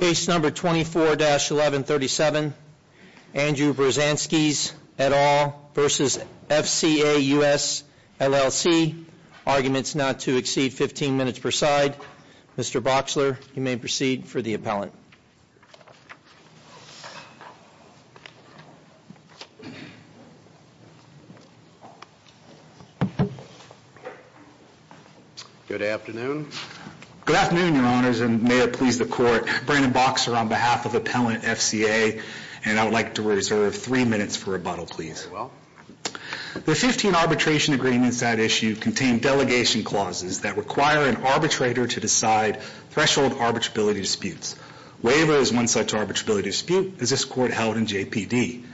Case number 24-1137, Andrew Berzanskis et al. v. FCA US LLC. Arguments not to exceed 15 minutes per side. Mr. Boxler, you may proceed for the appellant. Good afternoon. Good afternoon, your honors, and may it please the court. Brandon Boxler on behalf of Appellant FCA, and I would like to reserve three minutes for rebuttal, please. Very well. The 15 arbitration agreements at issue contain delegation clauses that require an arbitrator to decide threshold arbitrability disputes. Waiver is one such arbitrability dispute, as this court held in JPD.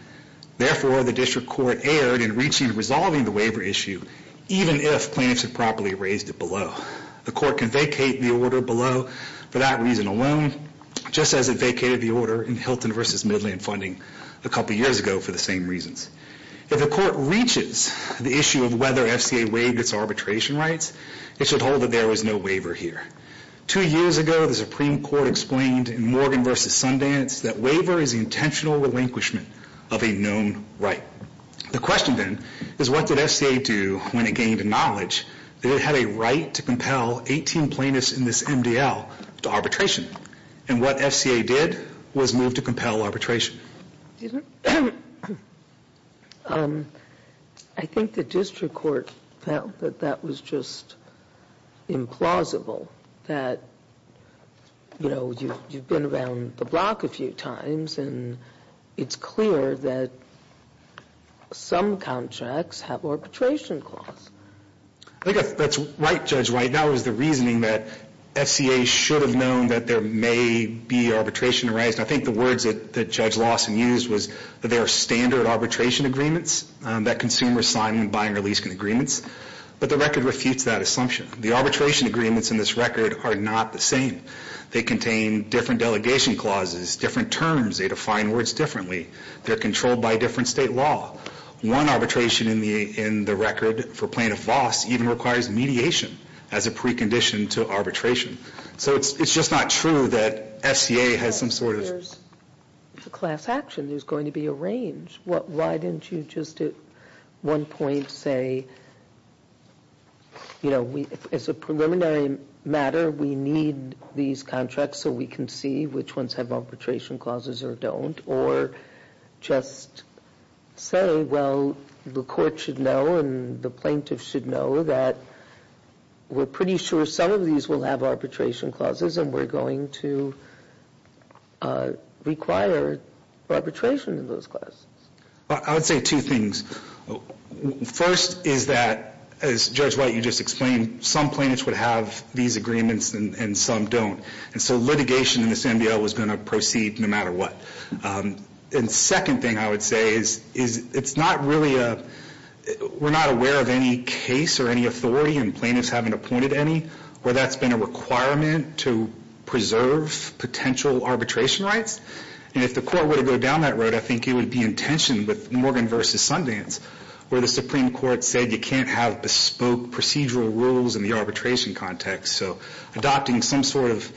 Therefore, the district court erred in reaching and resolving the waiver issue, even if plaintiffs had properly raised it below. The court can vacate the order below for that reason alone, just as it vacated the order in Hilton v. Midland funding a couple years ago for the same reasons. If the court reaches the issue of whether FCA waived its arbitration rights, it should hold that there was no waiver here. Two years ago, the Supreme Court explained in Morgan v. Sundance that waiver is the intentional relinquishment of a known right. The question, then, is what did FCA do when it gained knowledge that it had a right to compel 18 plaintiffs in this MDL to arbitration? And what FCA did was move to compel arbitration. I think the district court felt that that was just implausible, that, you know, you've been around the block a few times, and it's clear that some contracts have arbitration clauses. I think that's right, Judge White. That was the reasoning that FCA should have known that there may be arbitration rights. I think the words that Judge Lawson used was that there are standard arbitration agreements that consumers sign when buying or leasing agreements. But the record refutes that assumption. The arbitration agreements in this record are not the same. They contain different delegation clauses, different terms. They define words differently. They're controlled by different state law. One arbitration in the record for Plaintiff Voss even requires mediation as a precondition to arbitration. So it's just not true that FCA has some sort of... If there's a class action, there's going to be a range. Why didn't you just at one point say, you know, as a preliminary matter, we need these contracts so we can see which ones have arbitration clauses or don't? Or just say, well, the court should know and the plaintiff should know that we're pretty sure some of these will have arbitration clauses and we're going to require arbitration in those clauses. I would say two things. First is that, as Judge White, you just explained, some plaintiffs would have these agreements and some don't. And so litigation in this NBL was going to proceed no matter what. And second thing I would say is it's not really a... We're not aware of any case or any authority and plaintiffs haven't appointed any where that's been a requirement to preserve potential arbitration rights. And if the court were to go down that road, I think it would be in tension with Morgan v. Sundance, where the Supreme Court said you can't have bespoke procedural rules in the arbitration context. So adopting some sort of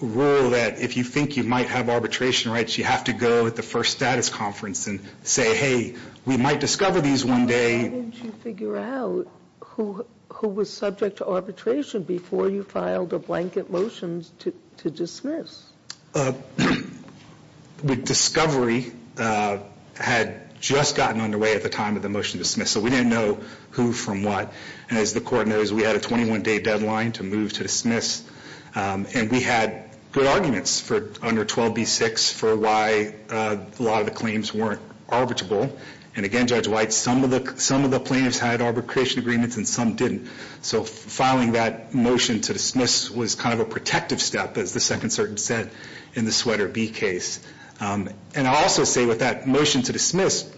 rule that if you think you might have arbitration rights, you have to go at the first status conference and say, hey, we might discover these one day. Sotomayor, why didn't you figure out who was subject to arbitration before you filed a blanket motion to dismiss? The discovery had just gotten underway at the time of the motion to dismiss. So we didn't know who from what. And as the court knows, we had a 21-day deadline to move to dismiss. And we had good arguments under 12b-6 for why a lot of the claims weren't arbitrable. And again, Judge White, some of the plaintiffs had arbitration agreements and some didn't. So filing that motion to dismiss was kind of a protective step, as the second certain said in the Sweater v. Case. And I'll also say with that motion to dismiss,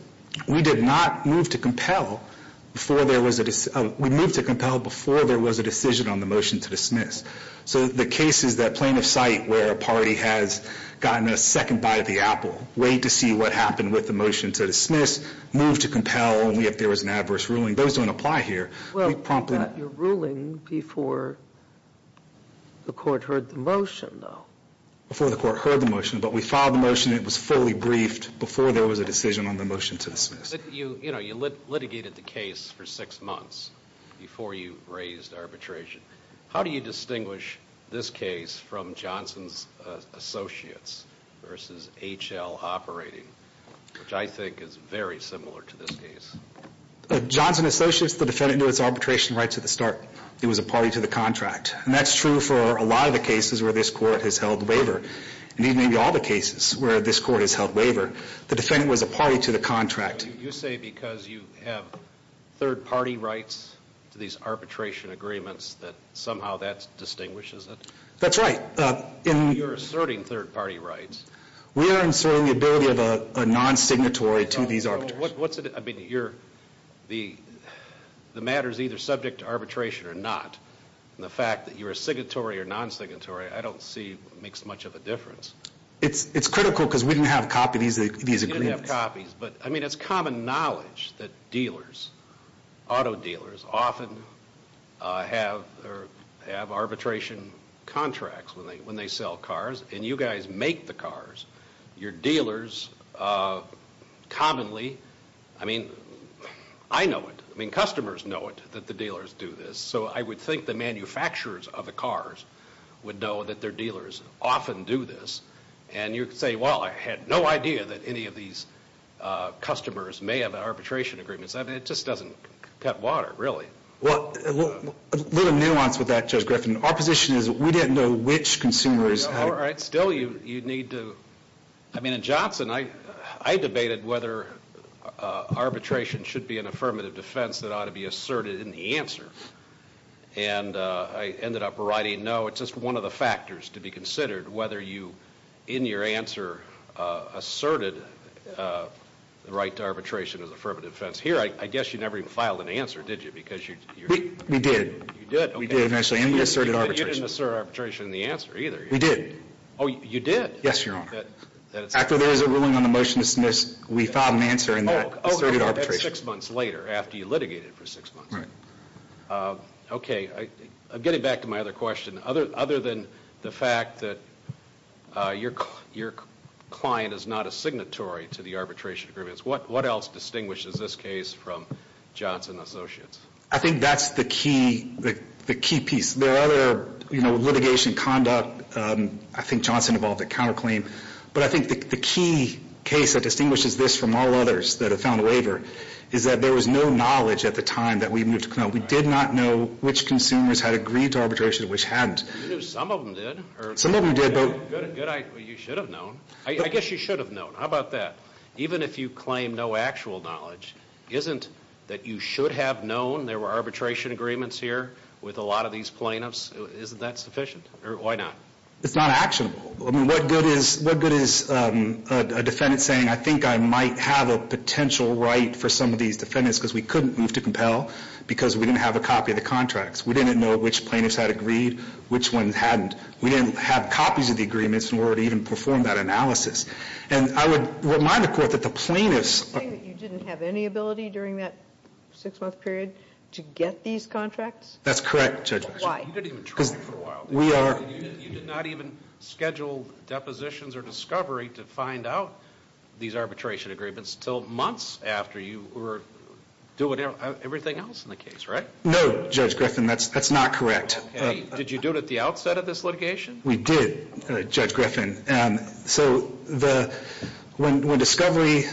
we did not move to compel. We moved to compel before there was a decision on the motion to dismiss. So the case is that plaintiff's site where a party has gotten a second bite of the apple, wait to see what happened with the motion to dismiss, move to compel, and if there was an adverse ruling. Those don't apply here. Well, you got your ruling before the court heard the motion, though. Before the court heard the motion. But we filed the motion, and it was fully briefed before there was a decision on the motion to dismiss. You litigated the case for six months before you raised arbitration. How do you distinguish this case from Johnson's Associates v. H.L. Operating, which I think is very similar to this case? Johnson Associates, the defendant, knew its arbitration rights at the start. It was a party to the contract. And that's true for a lot of the cases where this court has held waiver. And even in all the cases where this court has held waiver, the defendant was a party to the contract. You say because you have third-party rights to these arbitration agreements that somehow that distinguishes it? That's right. You're asserting third-party rights. We are asserting the ability of a non-signatory to these arbitrations. The matter is either subject to arbitration or not. And the fact that you're a signatory or non-signatory, I don't see what makes much of a difference. It's critical because we didn't have copies of these agreements. You didn't have copies. But it's common knowledge that dealers, auto dealers, often have arbitration contracts when they sell cars. And you guys make the cars. Your dealers commonly, I mean, I know it. I mean, customers know it, that the dealers do this. So I would think the manufacturers of the cars would know that their dealers often do this. And you say, well, I had no idea that any of these customers may have arbitration agreements. I mean, it just doesn't cut water, really. Well, a little nuance with that, Judge Griffin. Our position is we didn't know which consumers had. All right. Still, you need to – I mean, in Johnson, I debated whether arbitration should be an affirmative defense that ought to be asserted in the answer. And I ended up writing no. It's just one of the factors to be considered, whether you, in your answer, asserted the right to arbitration as an affirmative defense. Here, I guess you never even filed an answer, did you, because you're – We did. You did. We did eventually, and we asserted arbitration. But you didn't assert arbitration in the answer either. We did. Oh, you did? Yes, Your Honor. After there was a ruling on the motion to dismiss, we filed an answer in that asserted arbitration. Oh, six months later, after you litigated for six months. Right. Okay. Getting back to my other question, other than the fact that your client is not a signatory to the arbitration agreements, what else distinguishes this case from Johnson & Associates? I think that's the key piece. There are other, you know, litigation conduct. I think Johnson involved a counterclaim. But I think the key case that distinguishes this from all others that have found a waiver is that there was no knowledge at the time that we moved to Clendon. We did not know which consumers had agreed to arbitration and which hadn't. You knew some of them did. Some of them did. Good. You should have known. I guess you should have known. How about that? Even if you claim no actual knowledge, isn't that you should have known there were arbitration agreements here with a lot of these plaintiffs? Isn't that sufficient? Or why not? It's not actionable. I mean, what good is a defendant saying, I think I might have a potential right for some of these defendants because we couldn't move to Compel because we didn't have a copy of the contracts. We didn't know which plaintiffs had agreed, which ones hadn't. We didn't have copies of the agreements in order to even perform that analysis. And I would remind the Court that the plaintiffs... You didn't have any ability during that six-month period to get these contracts? That's correct, Judge Griffin. Why? Because we are... You did not even schedule depositions or discovery to find out these arbitration agreements until months after you were doing everything else in the case, right? No, Judge Griffin. That's not correct. Okay. Did you do it at the outset of this litigation? We did, Judge Griffin. So when discovery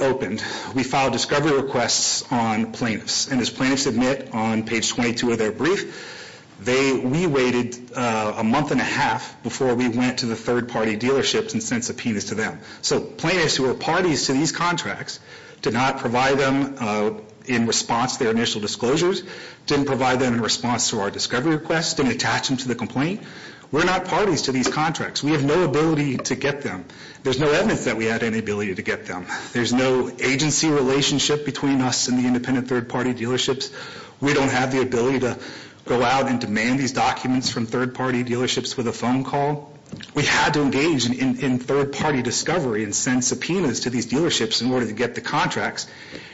opened, we filed discovery requests on plaintiffs. And as plaintiffs admit on page 22 of their brief, we waited a month and a half before we went to the third-party dealerships and sent subpoenas to them. So plaintiffs who were parties to these contracts did not provide them in response to their initial disclosures, didn't provide them in response to our discovery requests, didn't attach them to the complaint. We're not parties to these contracts. We have no ability to get them. There's no evidence that we had any ability to get them. There's no agency relationship between us and the independent third-party dealerships. We don't have the ability to go out and demand these documents from third-party dealerships with a phone call. We had to engage in third-party discovery and send subpoenas to these dealerships in order to get the contracts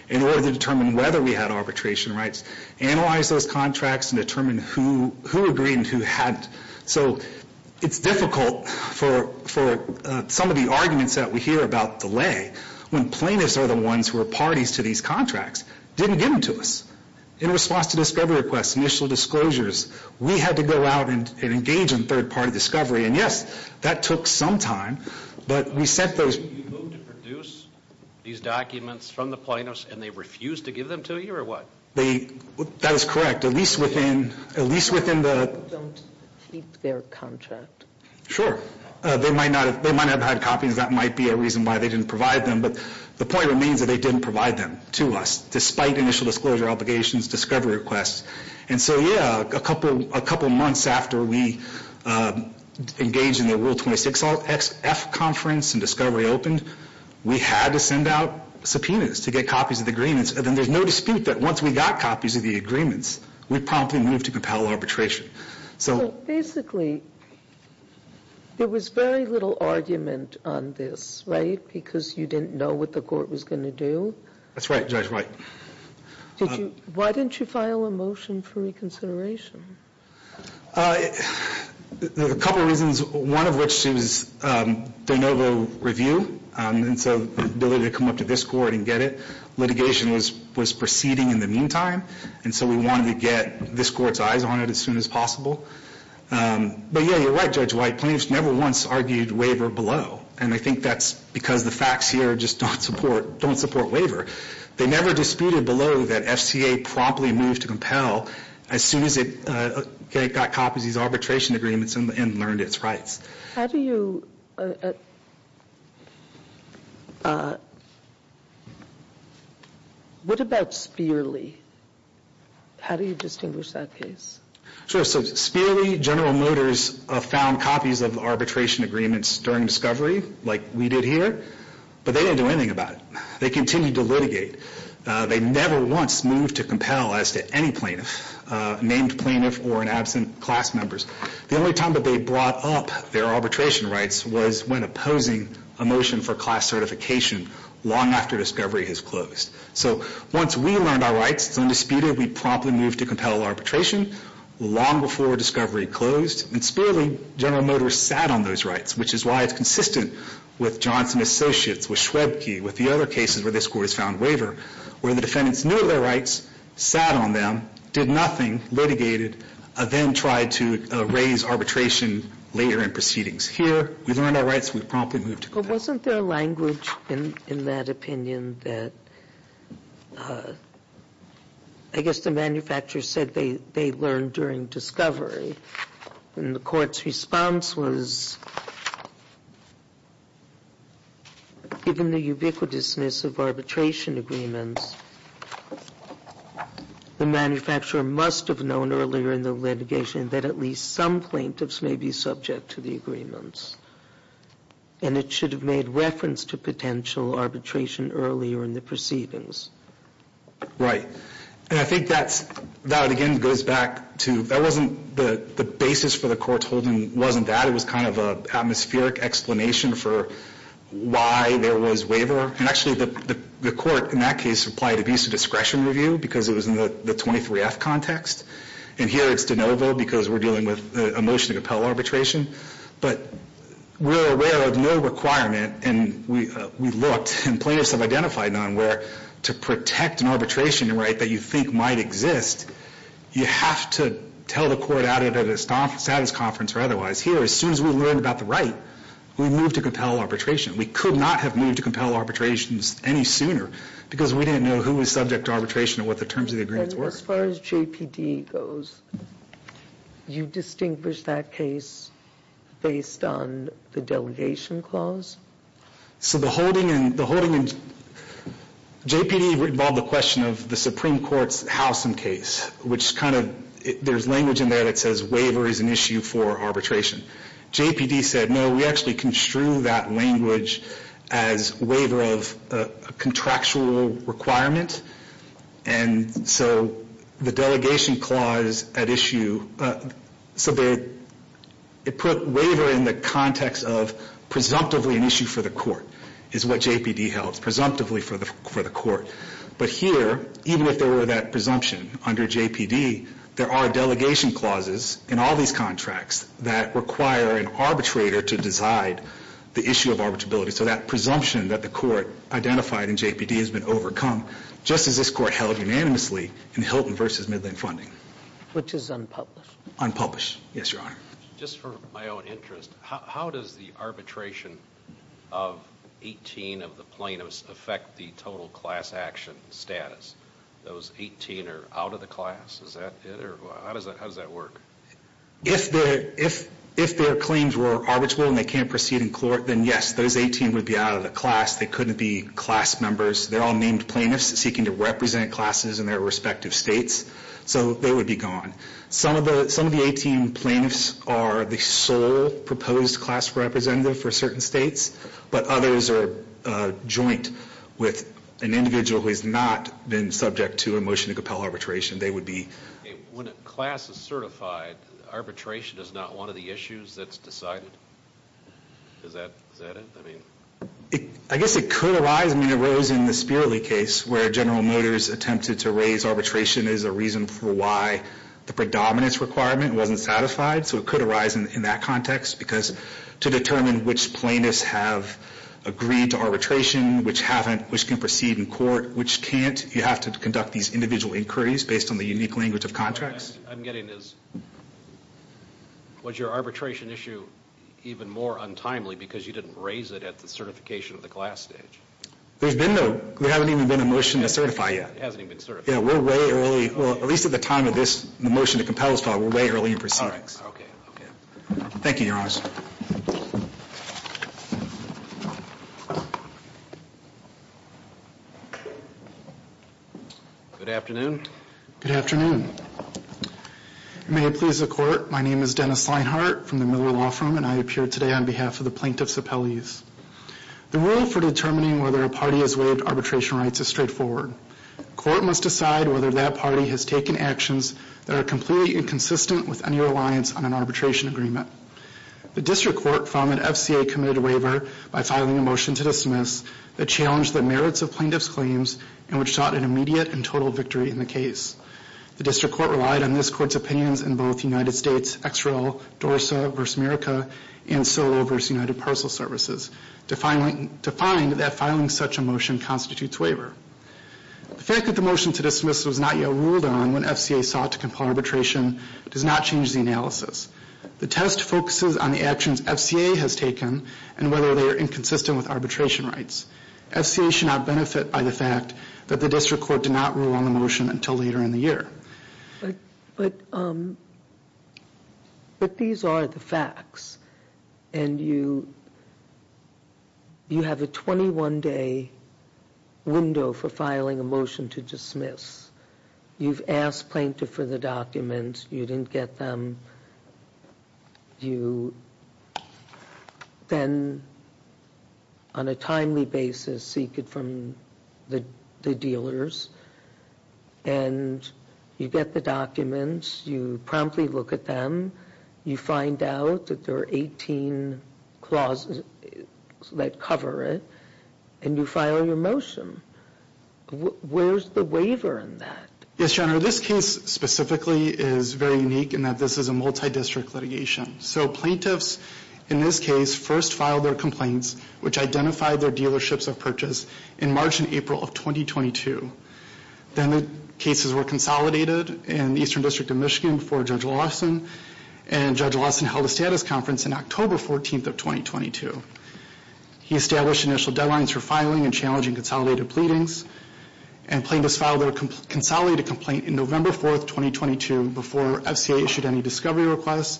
in order to determine whether we had arbitration rights, analyze those contracts, and determine who agreed and who hadn't. So it's difficult for some of the arguments that we hear about delay when plaintiffs are the ones who are parties to these contracts, didn't give them to us. In response to discovery requests, initial disclosures, we had to go out and engage in third-party discovery. And yes, that took some time, but we sent those. You moved to produce these documents from the plaintiffs and they refused to give them to you or what? That is correct, at least within the... They don't keep their contract. Sure. They might not have had copies. That might be a reason why they didn't provide them. But the point remains that they didn't provide them to us, despite initial disclosure obligations, discovery requests. And so, yeah, a couple months after we engaged in the Rule 26-F conference and discovery opened, we had to send out subpoenas to get copies of the agreements. And then there's no dispute that once we got copies of the agreements, we promptly moved to compel arbitration. So basically, there was very little argument on this, right, because you didn't know what the court was going to do? That's right, Judge, right. Why didn't you file a motion for reconsideration? A couple reasons, one of which is de novo review. And so the ability to come up to this court and get it. Litigation was proceeding in the meantime, and so we wanted to get this court's eyes on it as soon as possible. But, yeah, you're right, Judge White. Plaintiffs never once argued waiver below, and I think that's because the facts here just don't support waiver. They never disputed below that FCA promptly moved to compel as soon as it got copies of these arbitration agreements and learned its rights. How do you – what about Speerle? How do you distinguish that case? Sure. So Speerle, General Motors found copies of arbitration agreements during discovery, like we did here, but they didn't do anything about it. They continued to litigate. They never once moved to compel as to any plaintiff, named plaintiff or in absent class members. The only time that they brought up their arbitration rights was when opposing a motion for class certification long after discovery has closed. So once we learned our rights, undisputed, we promptly moved to compel arbitration long before discovery closed, and Speerle, General Motors sat on those rights, which is why it's consistent with Johnson Associates, with Schwebke, with the other cases where this court has found waiver, where the defendants knew their rights, sat on them, did nothing, litigated, then tried to raise arbitration later in proceedings. Here, we learned our rights. We promptly moved to compel. But wasn't there language in that opinion that – I guess the manufacturer said they learned during discovery, and the court's response was, given the ubiquitousness of arbitration agreements, the manufacturer must have known earlier in the litigation that at least some plaintiffs may be subject to the agreements, and it should have made reference to potential arbitration earlier in the proceedings. Right. And I think that's – that, again, goes back to – that wasn't the basis for the court's holding. It wasn't that. It was kind of an atmospheric explanation for why there was waiver. And actually, the court in that case applied abuse of discretion review because it was in the 23F context, and here it's de novo because we're dealing with a motion to compel arbitration. But we're aware of no requirement, and we looked and plaintiffs have identified none, where to protect an arbitration right that you think might exist, you have to tell the court at a status conference or otherwise. Here, as soon as we learned about the right, we moved to compel arbitration. We could not have moved to compel arbitrations any sooner because we didn't know who was subject to arbitration and what the terms of the agreements were. And as far as JPD goes, you distinguish that case based on the delegation clause? So the holding in – the holding in – JPD involved the question of the Supreme Court's Howsam case, which kind of – there's language in there that says waiver is an issue for arbitration. JPD said, no, we actually construe that language as waiver of a contractual requirement, and so the delegation clause at issue – so they put waiver in the context of presumptively an issue for the court, is what JPD held, presumptively for the court. But here, even if there were that presumption under JPD, there are delegation clauses in all these contracts that require an arbitrator to decide the issue of arbitrability. So that presumption that the court identified in JPD has been overcome, just as this court held unanimously in Hilton v. Midland Funding. Which is unpublished? Unpublished. Yes, Your Honor. Just for my own interest, how does the arbitration of 18 of the plaintiffs affect the total class action status? Those 18 are out of the class? Is that it? How does that work? If their claims were arbitral and they can't proceed in court, then yes, those 18 would be out of the class. They couldn't be class members. They're all named plaintiffs seeking to represent classes in their respective states. So they would be gone. Some of the 18 plaintiffs are the sole proposed class representative for certain states, but others are joint with an individual who has not been subject to a motion to compel arbitration. They would be. When a class is certified, arbitration is not one of the issues that's decided? Is that it? I guess it could arise. I mean, it arose in the Spirley case, where General Motors attempted to raise arbitration as a reason for why the predominance requirement wasn't satisfied. So it could arise in that context. Because to determine which plaintiffs have agreed to arbitration, which haven't, which can proceed in court, which can't, you have to conduct these individual inquiries based on the unique language of contracts. I'm getting this. Was your arbitration issue even more untimely because you didn't raise it at the certification of the class stage? There's been no, there hasn't even been a motion to certify yet. It hasn't even been certified. Yeah, we're way early. Well, at least at the time of this, the motion to compel is filed, we're way early in proceedings. Okay. Thank you, Your Honors. Good afternoon. Good afternoon. May it please the Court, my name is Dennis Leinhart from the Miller Law Firm, and I appear today on behalf of the plaintiffs' appellees. The rule for determining whether a party has waived arbitration rights is straightforward. The court must decide whether that party has taken actions that are completely inconsistent with any reliance on an arbitration agreement. The district court found that FCA committed a waiver by filing a motion to dismiss that challenged the merits of plaintiffs' claims and which sought an immediate and total victory in the case. The district court relied on this court's opinions in both United States, XREL, DORSA v. America, and Solo v. United Parcel Services to find that filing such a motion constitutes waiver. The fact that the motion to dismiss was not yet ruled on when FCA sought to compel arbitration does not change the analysis. The test focuses on the actions FCA has taken and whether they are inconsistent with arbitration rights. FCA should not benefit by the fact that the district court did not rule on the motion until later in the year. But these are the facts. And you have a 21-day window for filing a motion to dismiss. You've asked plaintiff for the documents. You didn't get them. You then, on a timely basis, seek it from the dealers. And you get the documents. You promptly look at them. You find out that there are 18 clauses that cover it. And you file your motion. Where's the waiver in that? Yes, Your Honor, this case specifically is very unique in that this is a multi-district litigation. So plaintiffs, in this case, first filed their complaints, which identified their dealerships of purchase, in March and April of 2022. Then the cases were consolidated in the Eastern District of Michigan before Judge Lawson. And Judge Lawson held a status conference in October 14th of 2022. He established initial deadlines for filing and challenging consolidated pleadings. And plaintiffs filed their consolidated complaint in November 4th, 2022, before FCA issued any discovery requests,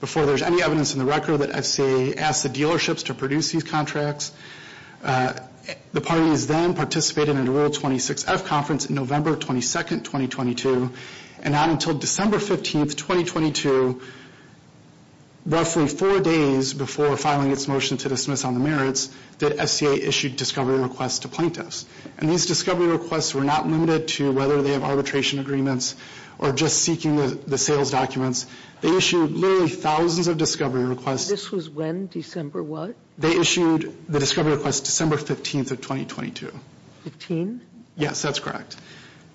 before there's any evidence in the record that FCA asked the dealerships to produce these contracts. The parties then participated in a Rule 26-F conference in November 22nd, 2022. And not until December 15th, 2022, roughly four days before filing its motion to dismiss on the merits, did FCA issue discovery requests to plaintiffs. And these discovery requests were not limited to whether they have arbitration agreements or just seeking the sales documents. They issued literally thousands of discovery requests. This was when? December what? They issued the discovery request December 15th of 2022. Fifteen? Yes, that's correct.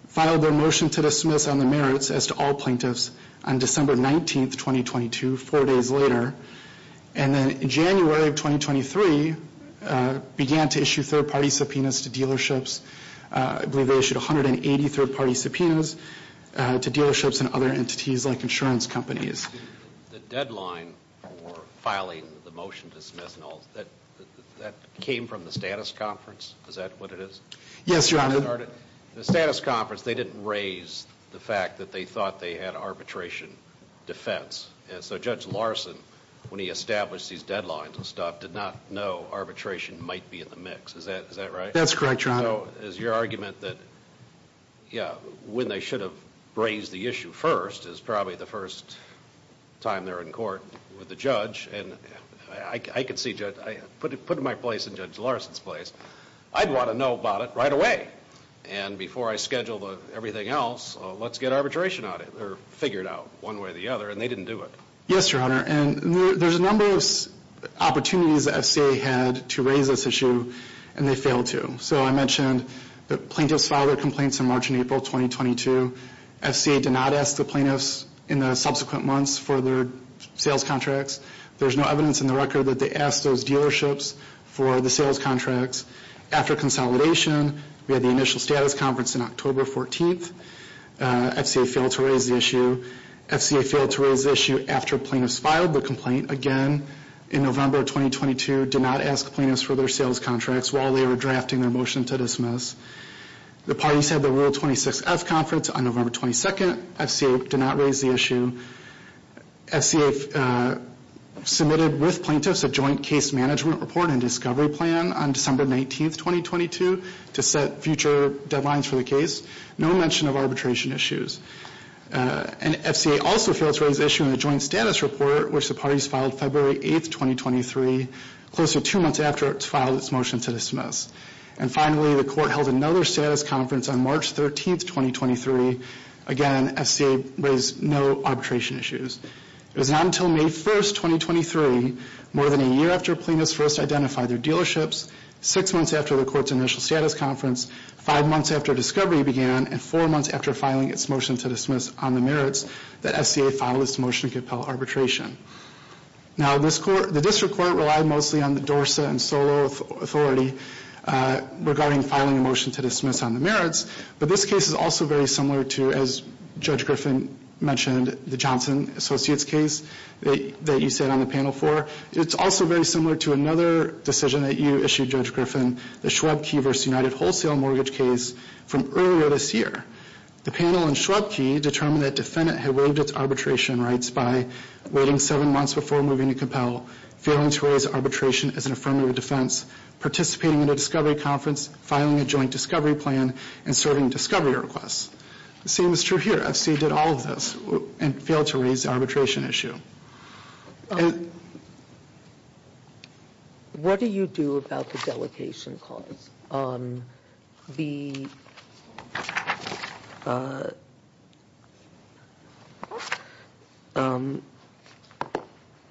Filed their motion to dismiss on the merits, as to all plaintiffs, on December 19th, 2022, four days later. And then in January of 2023, began to issue third-party subpoenas to dealerships. I believe they issued 180 third-party subpoenas to dealerships and other entities like insurance companies. The deadline for filing the motion to dismiss, that came from the status conference? Is that what it is? Yes, Your Honor. The status conference, they didn't raise the fact that they thought they had arbitration defense. And so Judge Larson, when he established these deadlines and stuff, did not know arbitration might be in the mix. Is that right? That's correct, Your Honor. So is your argument that when they should have raised the issue first is probably the first time they're in court with the judge? And I can see, putting my place in Judge Larson's place, I'd want to know about it right away. And before I schedule everything else, let's get arbitration figured out one way or the other. And they didn't do it. Yes, Your Honor. And there's a number of opportunities the FCA had to raise this issue, and they failed to. So I mentioned the plaintiffs filed their complaints in March and April 2022. FCA did not ask the plaintiffs in the subsequent months for their sales contracts. There's no evidence in the record that they asked those dealerships for the sales contracts. After consolidation, we had the initial status conference in October 14th. FCA failed to raise the issue. FCA failed to raise the issue after plaintiffs filed the complaint again in November 2022, did not ask plaintiffs for their sales contracts while they were drafting their motion to dismiss. The parties had the Rule 26F conference on November 22nd. FCA did not raise the issue. FCA submitted with plaintiffs a joint case management report and discovery plan on December 19th, 2022, to set future deadlines for the case. No mention of arbitration issues. And FCA also failed to raise the issue in the joint status report, which the parties filed February 8th, 2023, close to two months after it's filed its motion to dismiss. And finally, the court held another status conference on March 13th, 2023. Again, FCA raised no arbitration issues. It was not until May 1st, 2023, more than a year after plaintiffs first identified their dealerships, six months after the court's initial status conference, five months after discovery began, and four months after filing its motion to dismiss on the merits that FCA filed its motion to compel arbitration. Now, the district court relied mostly on the DORSA and SOLO authority regarding filing a motion to dismiss on the merits, but this case is also very similar to, as Judge Griffin mentioned, the Johnson Associates case that you sat on the panel for. It's also very similar to another decision that you issued, Judge Griffin, the Schwab-Key v. United Wholesale Mortgage case from earlier this year. The panel in Schwab-Key determined that defendant had waived its arbitration rights by waiting seven months before moving to compel, failing to raise arbitration as an affirmative defense, participating in a discovery conference, filing a joint discovery plan, and serving discovery requests. The same is true here. FCA did all of this and failed to raise the arbitration issue. What do you do about the delegation clause? The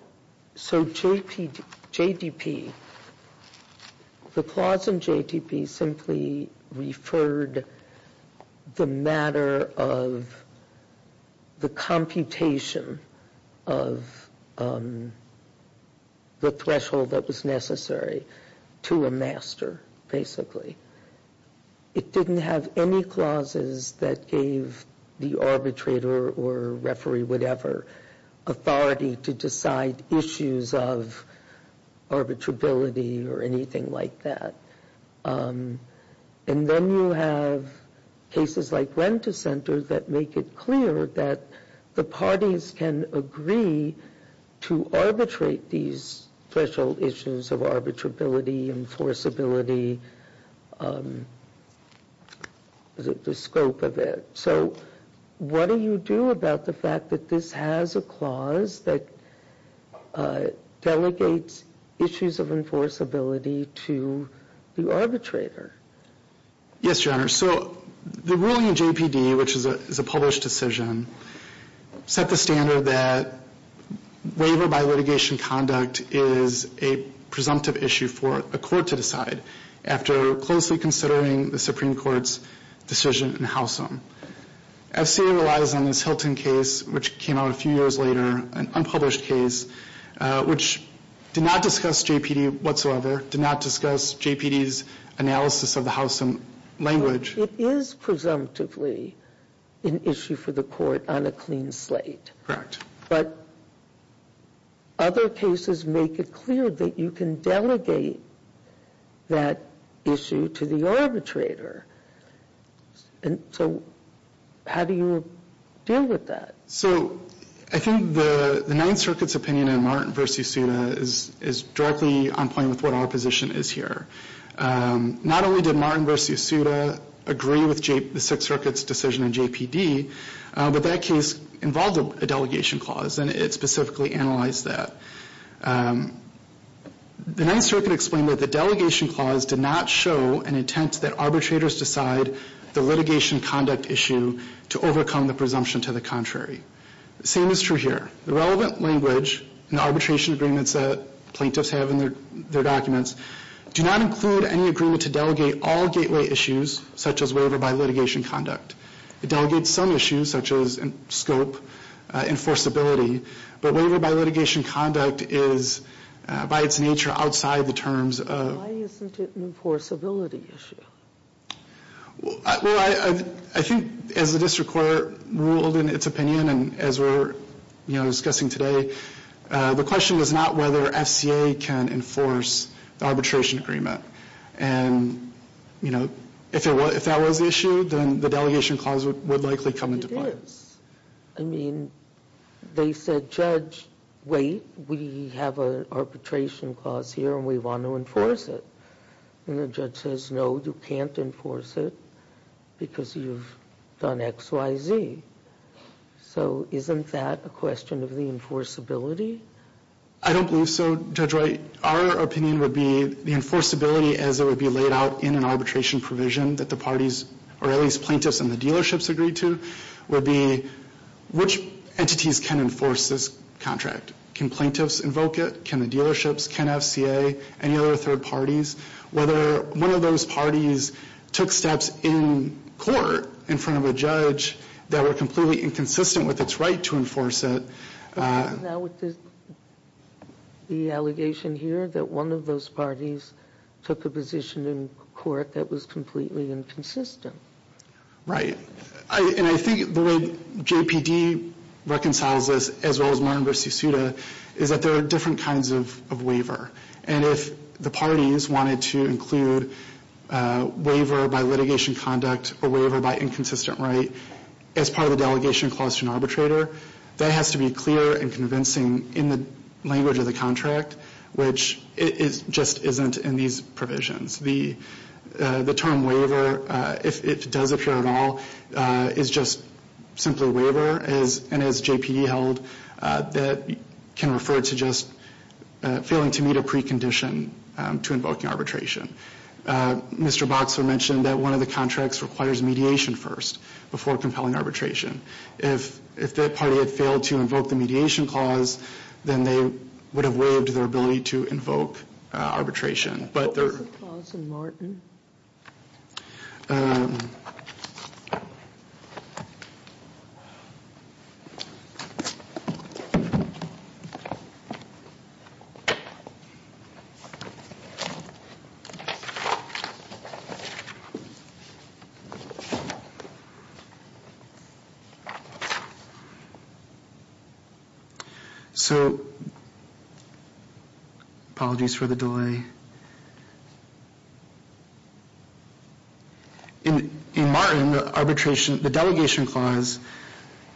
– so JDP, the clause in JDP simply referred the matter of the computation of the threshold that was necessary to a master, basically. It didn't have any clauses that gave the arbitrator or referee whatever authority to decide issues of arbitrability or anything like that. And then you have cases like Rent-A-Center that make it clear that the parties can agree to arbitrate these threshold issues of arbitrability, enforceability, the scope of it. So what do you do about the fact that this has a clause that delegates issues of enforceability to the arbitrator? Yes, Your Honor. So the ruling in JPD, which is a published decision, set the standard that waiver by litigation conduct is a presumptive issue for a court to decide after closely considering the Supreme Court's decision in Howsam. FCA relies on this Hilton case, which came out a few years later, an unpublished case, which did not discuss JPD whatsoever, did not discuss JPD's analysis of the Howsam language. It is presumptively an issue for the court on a clean slate. But other cases make it clear that you can delegate that issue to the arbitrator. So how do you deal with that? So I think the Ninth Circuit's opinion in Martin v. Souta is directly on point with what our position is here. Not only did Martin v. Souta agree with the Sixth Circuit's decision in JPD, but that case involved a delegation clause, and it specifically analyzed that. The Ninth Circuit explained that the delegation clause did not show an intent that arbitrators decide the litigation conduct issue to overcome the presumption to the contrary. The same is true here. The relevant language in the arbitration agreements that plaintiffs have in their documents do not include any agreement to delegate all gateway issues, such as waiver by litigation conduct. It delegates some issues, such as scope, enforceability, but waiver by litigation conduct is, by its nature, outside the terms of— Well, I think as the district court ruled in its opinion, and as we're discussing today, the question was not whether FCA can enforce the arbitration agreement. And if that was the issue, then the delegation clause would likely come into play. It is. I mean, they said, Judge, wait, we have an arbitration clause here, and we want to enforce it. And the judge says, no, you can't enforce it because you've done X, Y, Z. So isn't that a question of the enforceability? I don't believe so, Judge White. Our opinion would be the enforceability, as it would be laid out in an arbitration provision that the parties, or at least plaintiffs and the dealerships, agreed to, would be which entities can enforce this contract. Can plaintiffs invoke it? Can the dealerships? Can FCA? Any other third parties? Whether one of those parties took steps in court in front of a judge that were completely inconsistent with its right to enforce it. Now, with the allegation here that one of those parties took a position in court that was completely inconsistent. Right. And I think the way JPD reconciles this, as well as Martin v. Suda, is that there are different kinds of waiver. And if the parties wanted to include waiver by litigation conduct or waiver by inconsistent right as part of the delegation clause to an arbitrator, that has to be clear and convincing in the language of the contract, which just isn't in these provisions. The term waiver, if it does appear at all, is just simply waiver. And as JPD held, that can refer to just failing to meet a precondition to invoking arbitration. Mr. Boxer mentioned that one of the contracts requires mediation first before compelling arbitration. If that party had failed to invoke the mediation clause, then they would have waived their ability to invoke arbitration. What's the clause in Martin? So apologies for the delay. In Martin, the delegation clause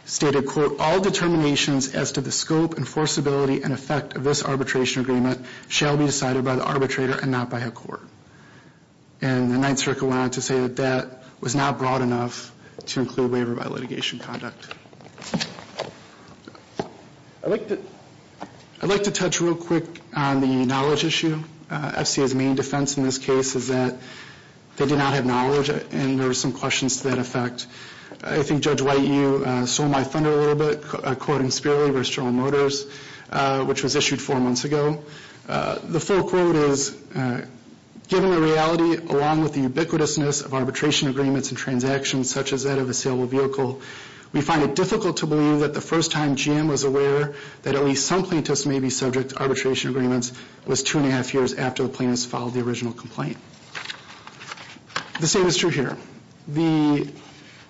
stated, quote, All determinations as to the scope, enforceability, and effect of this arbitration agreement shall be decided by the arbitrator and not by a court. And the Ninth Circle went on to say that that was not broad enough to include waiver by litigation conduct. I'd like to touch real quick on the knowledge issue. FCA's main defense in this case is that they do not have knowledge, and there are some questions to that effect. I think Judge White, you sold my thunder a little bit, quoting Spearley v. General Motors, which was issued four months ago. The full quote is, Given the reality, along with the ubiquitousness of arbitration agreements and transactions, such as that of a saleable vehicle, we find it difficult to believe that the first time GM was aware that at least some plaintiffs may be subject to arbitration agreements was two and a half years after the plaintiffs filed the original complaint. The same is true here.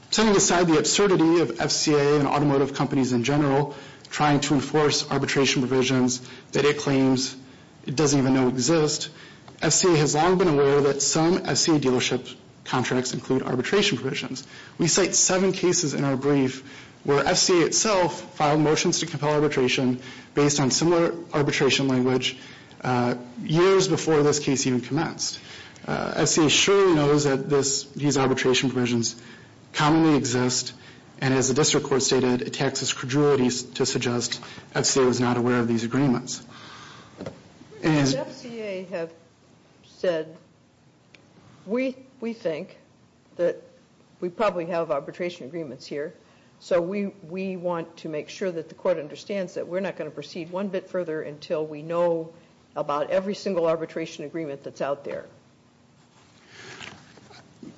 Setting aside the absurdity of FCA and automotive companies in general trying to enforce arbitration provisions that it claims it doesn't even know exist, FCA has long been aware that some FCA dealership contracts include arbitration provisions. We cite seven cases in our brief where FCA itself filed motions to compel arbitration based on similar arbitration language years before this case even commenced. FCA surely knows that these arbitration provisions commonly exist, and as the district court stated, it taxes credulity to suggest FCA was not aware of these agreements. As FCA have said, we think that we probably have arbitration agreements here, so we want to make sure that the court understands that we're not going to proceed one bit further until we know about every single arbitration agreement that's out there.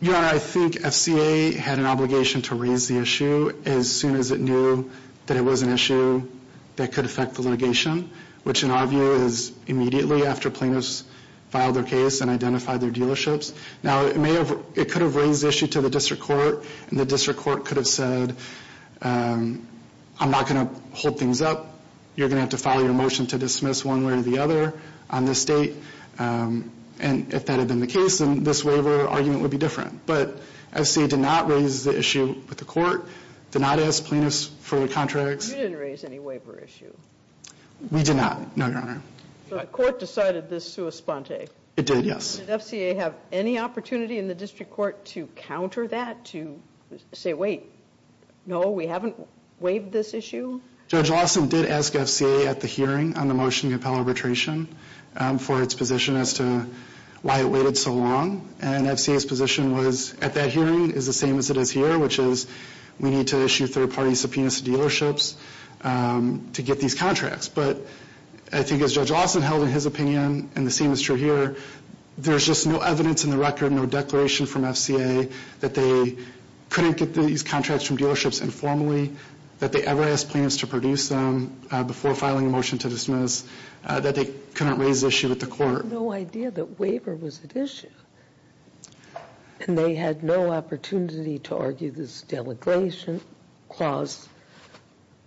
Your Honor, I think FCA had an obligation to raise the issue as soon as it knew that it was an issue that could affect the litigation, which in our view is immediately after plaintiffs filed their case and identified their dealerships. Now, it could have raised the issue to the district court, and the district court could have said, I'm not going to hold things up. You're going to have to file your motion to dismiss one way or the other on this date, and if that had been the case, then this waiver argument would be different. But FCA did not raise the issue with the court, did not ask plaintiffs for the contracts. You didn't raise any waiver issue. We did not, no, Your Honor. But court decided this sua sponte. It did, yes. Did FCA have any opportunity in the district court to counter that, to say, wait, no, we haven't waived this issue? Judge Lawson did ask FCA at the hearing on the motion to compel arbitration for its position as to why it waited so long, and FCA's position was at that hearing is the same as it is here, which is we need to issue third-party subpoenas to dealerships to get these contracts. But I think as Judge Lawson held in his opinion, and the same is true here, there's just no evidence in the record, no declaration from FCA, that they couldn't get these contracts from dealerships informally, that they ever asked plaintiffs to produce them before filing a motion to dismiss, that they couldn't raise the issue with the court. I have no idea that waiver was at issue. And they had no opportunity to argue this delegation clause,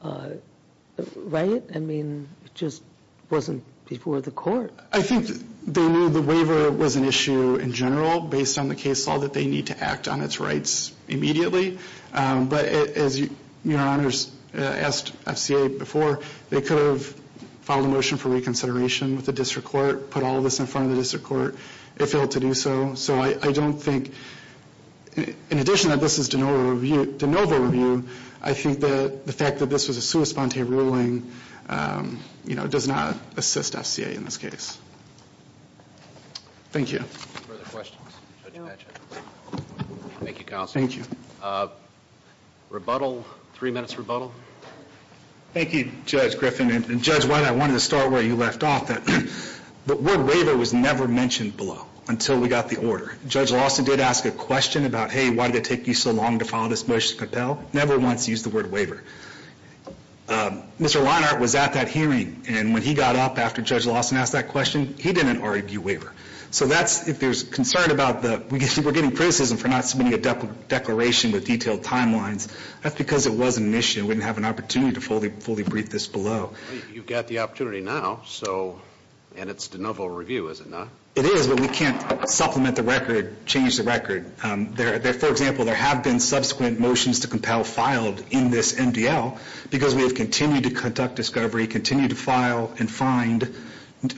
right? I mean, it just wasn't before the court. I think they knew the waiver was an issue in general, based on the case law, that they need to act on its rights immediately. But as your honors asked FCA before, they could have filed a motion for reconsideration with the district court, put all of this in front of the district court. They failed to do so. So I don't think, in addition that this is de novo review, I think that the fact that this was a sua sponte ruling does not assist FCA in this case. Thank you. Any further questions? Thank you, counsel. Rebuttal. Three minutes rebuttal. Thank you, Judge Griffin. And Judge White, I wanted to start where you left off, that the word waiver was never mentioned below until we got the order. Judge Lawson did ask a question about, hey, why did it take you so long to file this motion to compel? Never once used the word waiver. Mr. Leinart was at that hearing, and when he got up after Judge Lawson asked that question, he didn't argue waiver. So that's, if there's concern about the, we're getting criticism for not submitting a declaration with detailed timelines, that's because it wasn't an issue. We didn't have an opportunity to fully brief this below. You've got the opportunity now, so, and it's de novo review, is it not? It is, but we can't supplement the record, change the record. For example, there have been subsequent motions to compel filed in this MDL because we have continued to conduct discovery, continue to file and find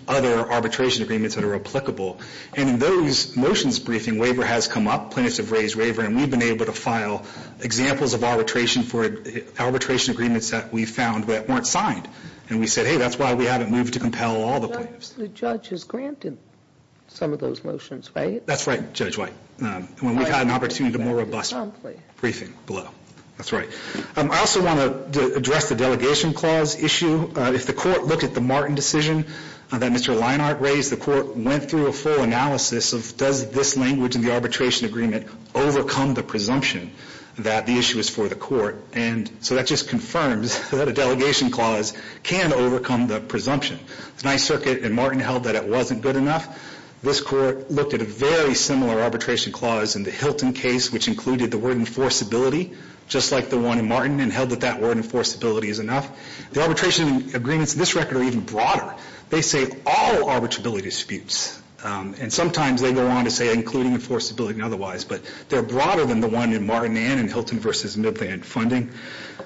other arbitration agreements that are applicable. And in those motions briefing, waiver has come up. Plaintiffs have raised waiver, and we've been able to file examples of arbitration for arbitration agreements that we found that weren't signed. And we said, hey, that's why we haven't moved to compel all the plaintiffs. The judge has granted some of those motions, right? That's right, Judge White. When we've had an opportunity to more robust briefing below. That's right. I also want to address the delegation clause issue. If the court looked at the Martin decision that Mr. Leinart raised, the court went through a full analysis of does this language in the arbitration agreement overcome the presumption that the issue is for the court. And so that just confirms that a delegation clause can overcome the presumption. Tonight's circuit in Martin held that it wasn't good enough. This court looked at a very similar arbitration clause in the Hilton case, which included the word enforceability, just like the one in Martin, and held that that word enforceability is enough. The arbitration agreements in this record are even broader. They say all arbitrability disputes. And sometimes they go on to say including enforceability and otherwise. But they're broader than the one in Martin and in Hilton v. Midland funding.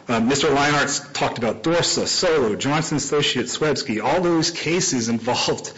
Mr. Leinart talked about Dorsa, Solo, Johnson, Associates, Swiebski. All those cases involved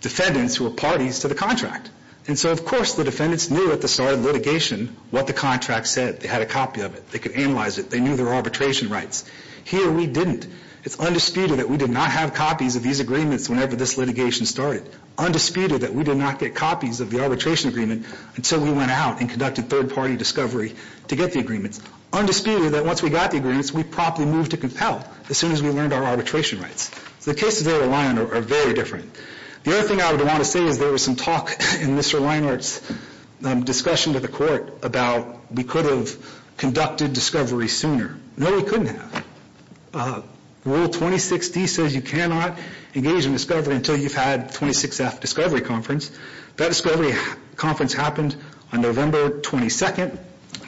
defendants who were parties to the contract. And so, of course, the defendants knew at the start of litigation what the contract said. They had a copy of it. They could analyze it. They knew their arbitration rights. Here we didn't. It's undisputed that we did not have copies of these agreements whenever this litigation started. Undisputed that we did not get copies of the arbitration agreement until we went out and conducted third-party discovery to get the agreements. Undisputed that once we got the agreements, we promptly moved to compel as soon as we learned our arbitration rights. So the cases there with Leinart are very different. The other thing I would want to say is there was some talk in Mr. Leinart's discussion to the court about we could have conducted discovery sooner. No, we couldn't have. Rule 26D says you cannot engage in discovery until you've had 26F discovery conference. That discovery conference happened on November 22nd.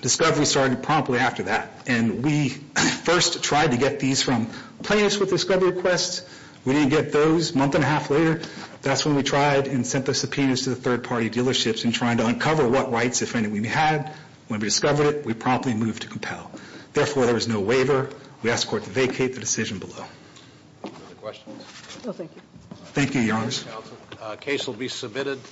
Discovery started promptly after that. And we first tried to get these from plaintiffs with discovery requests. We didn't get those a month and a half later. That's when we tried and sent the subpoenas to the third-party dealerships in trying to uncover what rights, if any, we had. When we discovered it, we promptly moved to compel. Therefore, there was no waiver. We asked the court to vacate the decision below. Any other questions? No, thank you. Thank you, Your Honor. The case will be submitted.